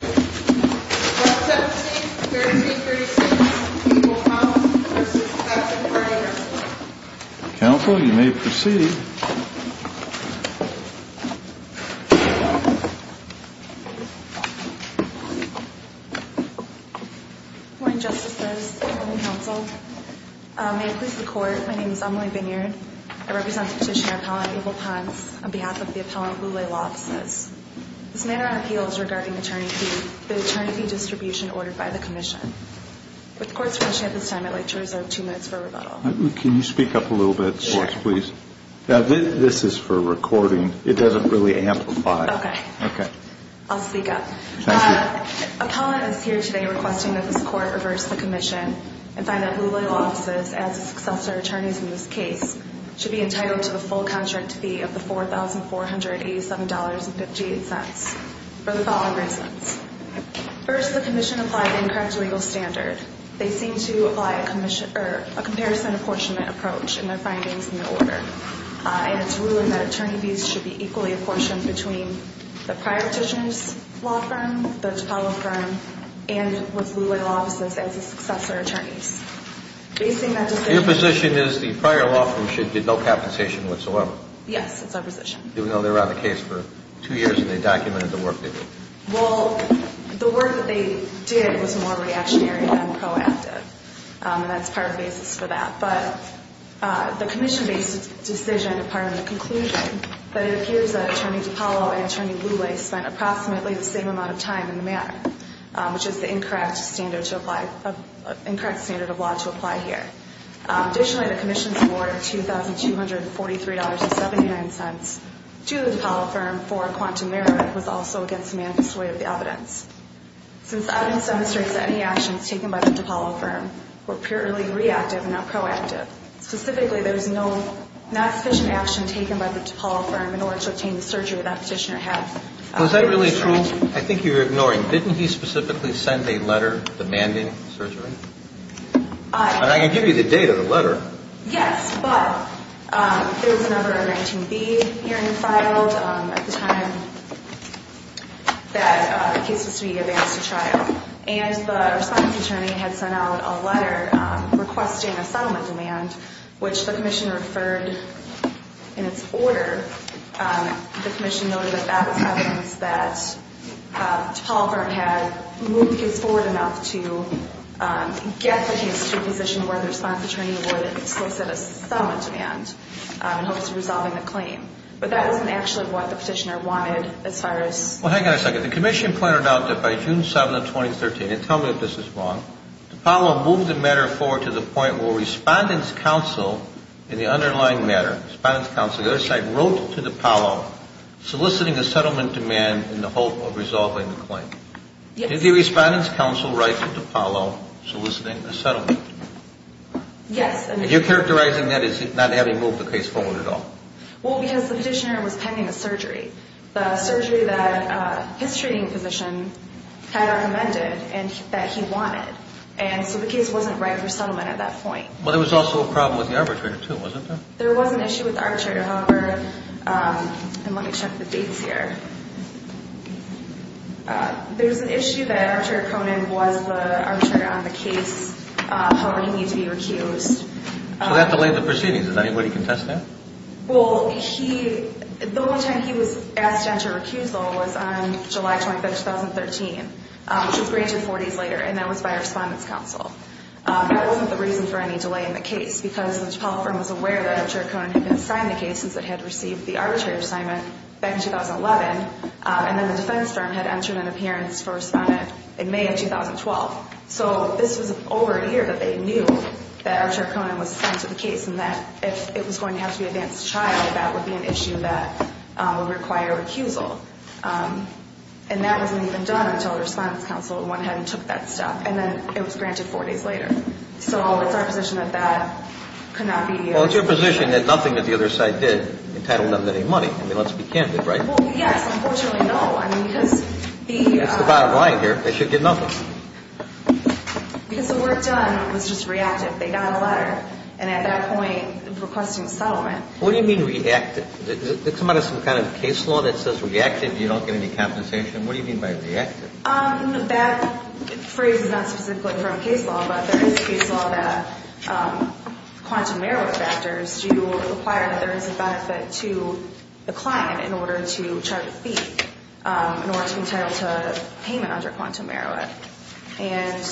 17-13-36 Abel Ponce v. Classic Party Rental Counsel, you may proceed. Good morning, Justices. Good morning, Counsel. May it please the Court, my name is Emily Vineard. I represent the Petitioner Appellant Abel Ponce on behalf of the Appellant Boulay Law Offices. This matter on appeal is regarding attorney fee, the attorney fee distribution ordered by the Commission. With the Court's pressure at this time, I'd like to reserve two minutes for rebuttal. Can you speak up a little bit, please? This is for recording. It doesn't really amplify. Okay. I'll speak up. Thank you. Appellant is here today requesting that this Court reverse the Commission and find that Boulay Law Offices, as the successor attorneys in this case, should be entitled to the full contract fee of the $4,487.58 for the following reasons. First, the Commission applied the incorrect legal standard. They seem to apply a comparison apportionment approach in their findings in the order, and it's ruled that attorney fees should be equally apportioned between the prior petitioner's law firm, the appellant firm, and with Boulay Law Offices as the successor attorneys. Your position is the prior law firm should get no compensation whatsoever? Yes, that's our position. Even though they were on the case for two years and they documented the work they did? Well, the work that they did was more reactionary than proactive, and that's part of the basis for that. But the Commission-based decision is part of the conclusion, but it appears that Attorney DiPaolo and Attorney Boulay spent approximately the same amount of time in the matter, which is the incorrect standard of law to apply here. Additionally, the Commission's award of $2,243.79 to the DiPaolo firm for a quantum mirror was also against the manifest way of the evidence. Since the evidence demonstrates that any actions taken by the DiPaolo firm were purely reactive and not proactive, specifically there was not sufficient action taken by the DiPaolo firm in order to obtain the surgery that petitioner had. Was that really true? I think you're ignoring. Didn't he specifically send a letter demanding surgery? I can give you the date of the letter. Yes, but there was a number of 19B hearings filed at the time that the case was to be advanced to trial, and the response attorney had sent out a letter requesting a settlement demand, which the Commission referred in its order. The Commission noted that that was evidence that DiPaolo firm had moved his forward enough to get the case to a position where the response attorney would solicit a settlement demand in hopes of resolving the claim. But that wasn't actually what the petitioner wanted as far as – Well, hang on a second. The Commission pointed out that by June 7, 2013, and tell me if this is wrong, DiPaolo moved the matter forward to the point where Respondent's Counsel in the underlying matter, Respondent's Counsel, the other side, wrote to DiPaolo soliciting a settlement demand in the hope of resolving the claim. Yes. Did the Respondent's Counsel write to DiPaolo soliciting a settlement demand? Yes. And you're characterizing that as not having moved the case forward at all? Well, because the petitioner was pending the surgery, the surgery that his treating physician had recommended and that he wanted. And so the case wasn't ready for settlement at that point. But there was also a problem with the arbitrator too, wasn't there? There was an issue with the arbitrator, however – and let me check the dates here. There's an issue that Arbitrator Conant was the arbitrator on the case, however, he needs to be recused. So that delayed the proceedings. Does anybody contest that? Well, the only time he was asked to enter recusal was on July 25, 2013, which was greater than four days later, and that was by Respondent's Counsel. That wasn't the reason for any delay in the case, because the DiPaolo firm was aware that Arbitrator Conant had been assigned the case since it had received the arbitrator assignment back in 2011, and then the defense firm had entered an appearance for Respondent in May of 2012. So this was over a year that they knew that Arbitrator Conant was assigned to the case and that if it was going to have to be advanced trial, that would be an issue that would require recusal. And that wasn't even done until Respondent's Counsel went ahead and took that step, and then it was granted four days later. So it's our position that that could not be. Well, it's your position that nothing that the other side did entitled them to any money. I mean, let's be candid, right? Well, yes. Unfortunately, no. I mean, because the... That's the bottom line here. They should get nothing. Because the work done was just reactive. They got a letter, and at that point, requesting settlement. What do you mean reactive? Does it come out of some kind of case law that says reactive, you don't get any compensation? What do you mean by reactive? That phrase is not specifically from case law, but there is case law that quantum merit factors do require that there is a benefit to the client in order to charge a fee in order to be entitled to payment under quantum merit. And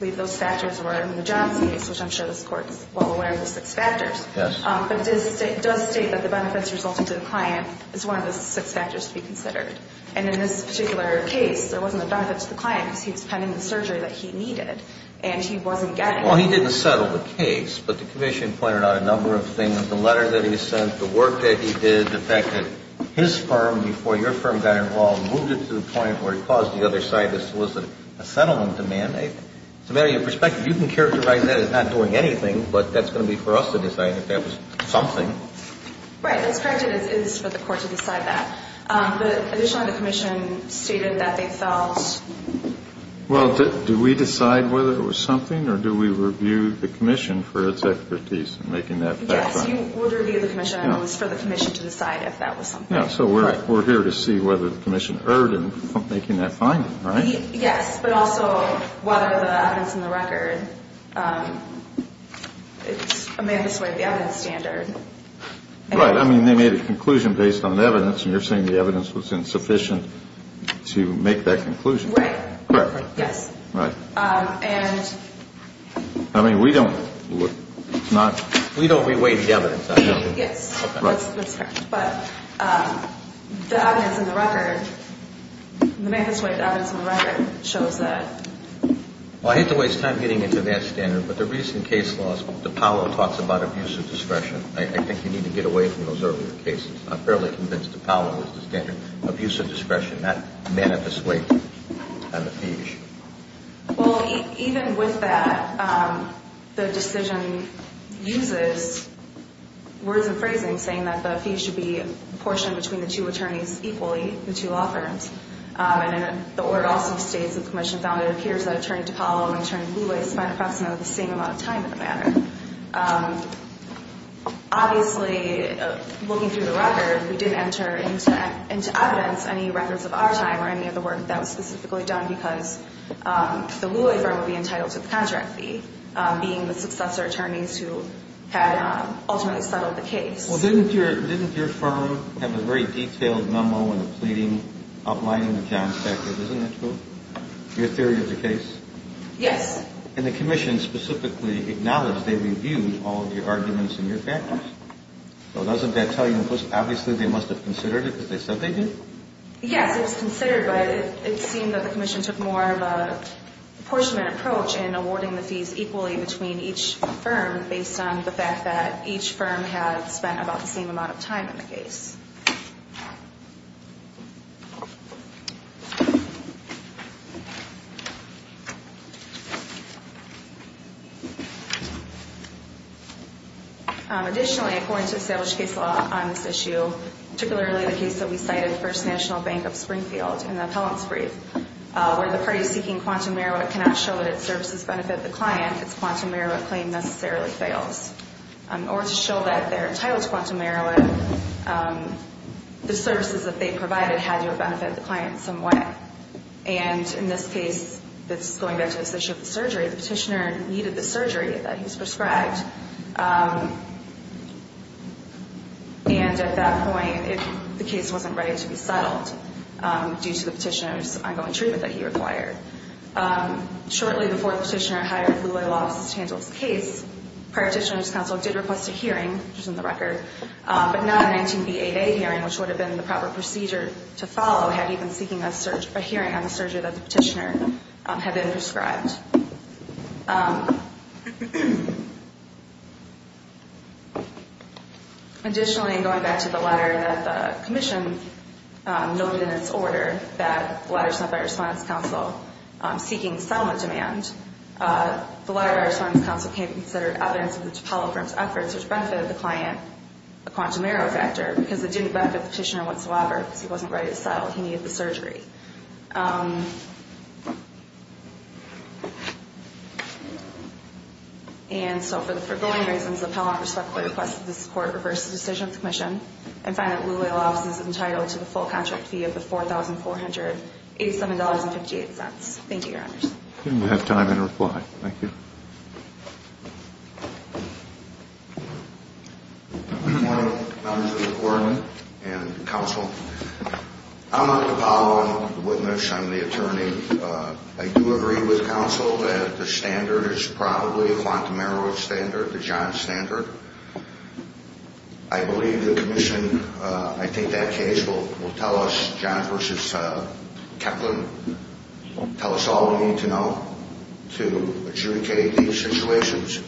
those factors were in the Johnson case, which I'm sure this Court is well aware of the six factors. Yes. But it does state that the benefits resulted to the client is one of the six factors to be considered. And in this particular case, there wasn't a benefit to the client because he was pending the surgery that he needed, and he wasn't getting it. Well, he didn't settle the case, but the commission pointed out a number of things. The letter that he sent, the work that he did, the fact that his firm, before your firm got involved, moved it to the point where it caused the other side to solicit a settlement demand. It's a matter of your perspective. You can characterize that as not doing anything, but that's going to be for us to decide if that was something. Right. That's correct, and it's for the Court to decide that. But additionally, the commission stated that they felt. Well, do we decide whether it was something, or do we review the commission for its expertise in making that finding? Yes, you would review the commission. It was for the commission to decide if that was something. Yeah, so we're here to see whether the commission erred in making that finding, right? Yes, but also whether the evidence in the record, it's a man this way, the evidence standard. Right. I mean, they made a conclusion based on evidence, and you're saying the evidence was insufficient to make that conclusion. Right. Correct. Yes. Right. And. I mean, we don't, it's not. We don't re-weight the evidence, I know. Yes. That's correct. But the evidence in the record, the man this way, the evidence in the record shows that. Well, I hate to waste time getting into that standard, but the recent case laws, DePaulo talks about abuse of discretion. I think you need to get away from those earlier cases. I'm fairly convinced DePaulo was the standard. Abuse of discretion, that man this way, and the fee issue. Well, even with that, the decision uses words and phrasing saying that the fee should be proportioned between the two attorneys equally, the two law firms. And the word also states, the commission found it appears that Attorney DePaulo and Attorney Lulay spent approximately the same amount of time in the matter. Obviously, looking through the record, we didn't enter into evidence any records of our time or any of the work that was specifically done because the Lulay firm would be entitled to the contract fee, being the successor attorneys who had ultimately settled the case. Well, didn't your firm have a very detailed memo in the pleading outlining the John's factors? Isn't that true? Your theory of the case? Yes. And the commission specifically acknowledged they reviewed all of your arguments and your factors? So doesn't that tell you, obviously, they must have considered it because they said they did? Yes, it was considered, but it seemed that the commission took more of a proportionate approach in awarding the fees equally between each firm based on the fact that each firm had spent approximately the same amount of time. Additionally, according to established case law on this issue, particularly the case that we cited, First National Bank of Springfield, in the appellant's brief, where the party seeking quantum merit cannot show that its services benefit the client, its quantum merit claim necessarily fails. In order to show that they're entitled to quantum merit, the services that they provided had to have benefited the client in some way. And in this case that's going back to this issue of the surgery, the petitioner needed the surgery that he was prescribed. And at that point, the case wasn't ready to be settled due to the petitioner's ongoing treatment that he required. Shortly before the petitioner hired Louie Laws to handle his case, prior petitioner's counsel did request a hearing, which is in the record, but not a 19B8A hearing, which would have been the proper procedure to follow had he been seeking a hearing on the surgery that the petitioner had been prescribed. Additionally, going back to the letter that the commission noted in its order that the letter sent by our respondents' counsel seeking settlement demand, the letter by our respondents' counsel came to consider evidence of the Topolo firm's efforts, which benefited the client, the quantum merit factor, because it didn't benefit the petitioner whatsoever, because he wasn't ready to settle, he needed the surgery. And so for the foregoing reasons, the Pell Office respectfully requests that this court reverse the decision of the commission and find that Louie Laws is entitled to the full contract fee of the $4,487.58. Thank you, Your Honors. We have time and a reply. Thank you. Good morning, members of the court and counsel. I'm not a Topolo witness, I'm the attorney. I do agree with counsel that the standard is probably a quantum merit standard, the John standard. I believe the commission, I think that case will tell us, John versus Kaplan, tell us all we need to know to adjudicate these situations.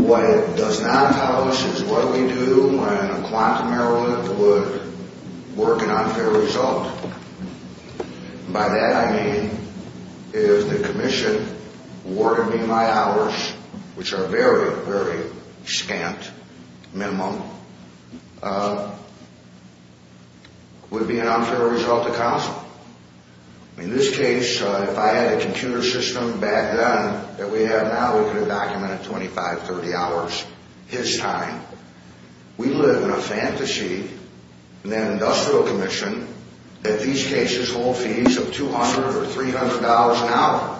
What it does not tell us is what we do when a quantum merit limit would work an unfair result. And by that I mean, is the commission awarding me my hours, which are very, very scant minimum, would be an unfair result to counsel. In this case, if I had a computer system back then that we have now, we could have documented 25, 30 hours his time. We live in a fantasy in that industrial commission that these cases hold fees of $200 or $300 an hour.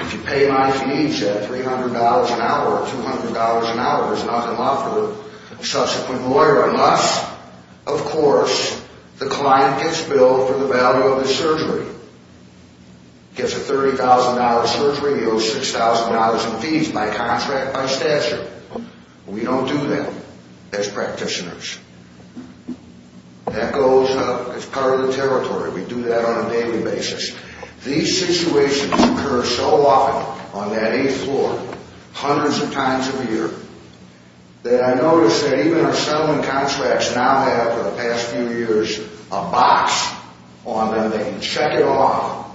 If you pay my fees at $300 an hour or $200 an hour, there's nothing left for the subsequent lawyer. Unless, of course, the client gets billed for the value of the surgery. Gets a $30,000 surgery, he owes $6,000 in fees by contract, by statute. We don't do that as practitioners. That goes, it's part of the territory. We do that on a daily basis. These situations occur so often on that eighth floor, hundreds of times a year, that I notice that even our settlement contracts now have, for the past few years, a box on them. They can check it off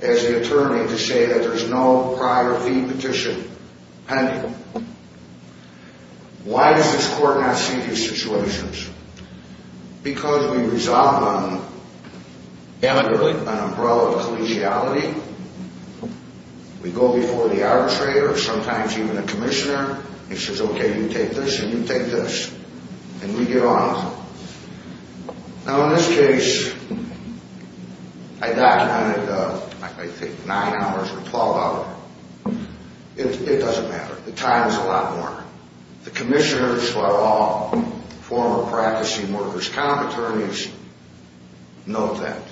as the attorney to say that there's no prior fee petition pending. Why does this court not see these situations? Because we resolve them amicably, an umbrella of collegiality. We go before the arbitrator, sometimes even the commissioner. He says, okay, you take this and you take this, and we get on with them. Now, in this case, I documented, I think, nine hours or 12 hours. It doesn't matter. The time is a lot more. The commissioners, who are all former practicing workers' comp attorneys, know that.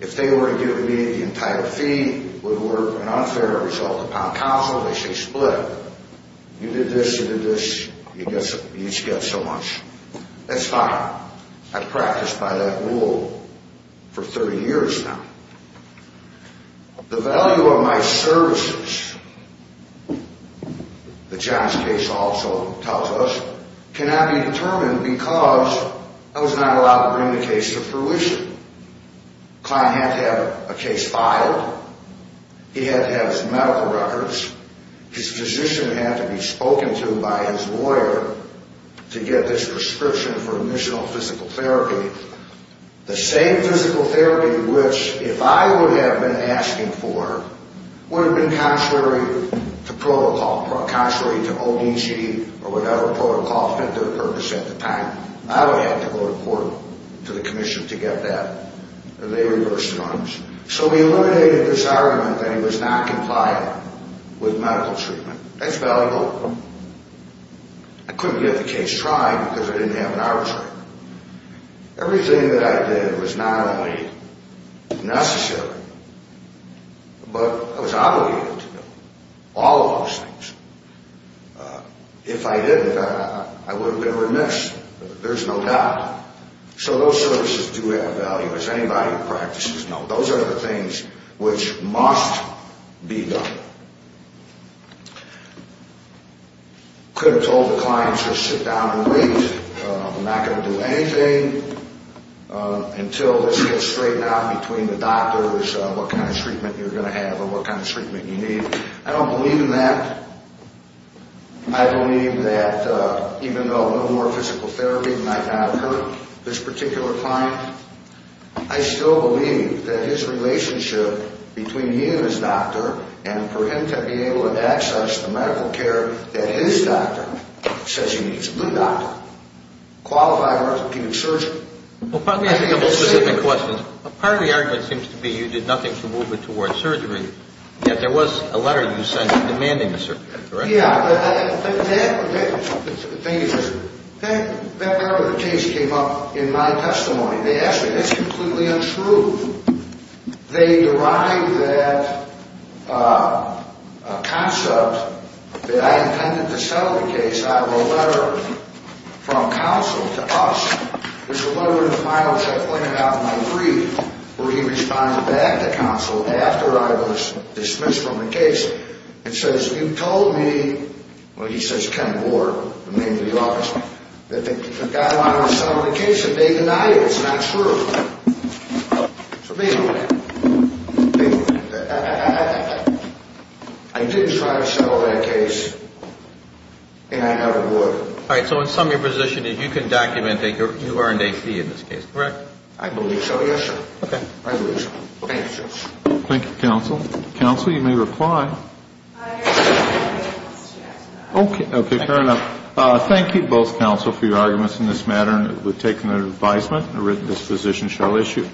If they were to give me the entire fee, would work an unfair result upon counsel, they say split. You did this, you did this, you each get so much. That's fine. I've practiced by that rule for 30 years now. The value of my services, the Johns case also tells us, cannot be determined because I was not allowed to bring the case to fruition. The client had to have a case filed. He had to have his medical records. His physician had to be spoken to by his lawyer to get this prescription for initial physical therapy. The same physical therapy, which, if I would have been asking for, would have been contrary to protocol. Contrary to ODC or whatever protocol fit their purpose at the time. I would have had to go to court, to the commission, to get that. And they reversed the runs. So we eliminated this argument that he was not compliant with medical treatment. That's valuable. I couldn't get the case tried because I didn't have an hour's time. Everything that I did was not only necessary, but I was obligated to do all of those things. If I didn't, I would have been remiss. There's no doubt. So those services do have value, as anybody who practices knows. Those are the things which must be done. I could have told the client to sit down and wait. I'm not going to do anything until this gets straightened out between the doctors. What kind of treatment you're going to have or what kind of treatment you need. I don't believe in that. I believe that even though no more physical therapy might not have hurt this particular client, I still believe that his relationship between me and his doctor and for him to be able to access the medical care that his doctor says he needs. A good doctor. Qualified orthopedic surgeon. Let me ask you a couple of specific questions. Part of the argument seems to be you did nothing to move it towards surgery, yet there was a letter you sent demanding the surgery, correct? Yeah, but that part of the case came up in my testimony. That's completely untrue. They derived that concept that I intended to settle the case out of a letter from counsel to us. There's a letter in the finals I pointed out in my brief where he responds back to counsel after I was dismissed from the case and says, you told me, well he says Ken Ward, the name of the office, that the guy wanted to settle the case and they denied it. It's not true. So basically, I did try to settle that case and I never would. All right, so in summary, your position is you can document that you earned a fee in this case, correct? I believe so, yes sir. Okay. Thank you, counsel. Counsel, you may reply. Okay, fair enough. Thank you both, counsel, for your arguments in this matter. We've taken their advisement and written this position shall issue.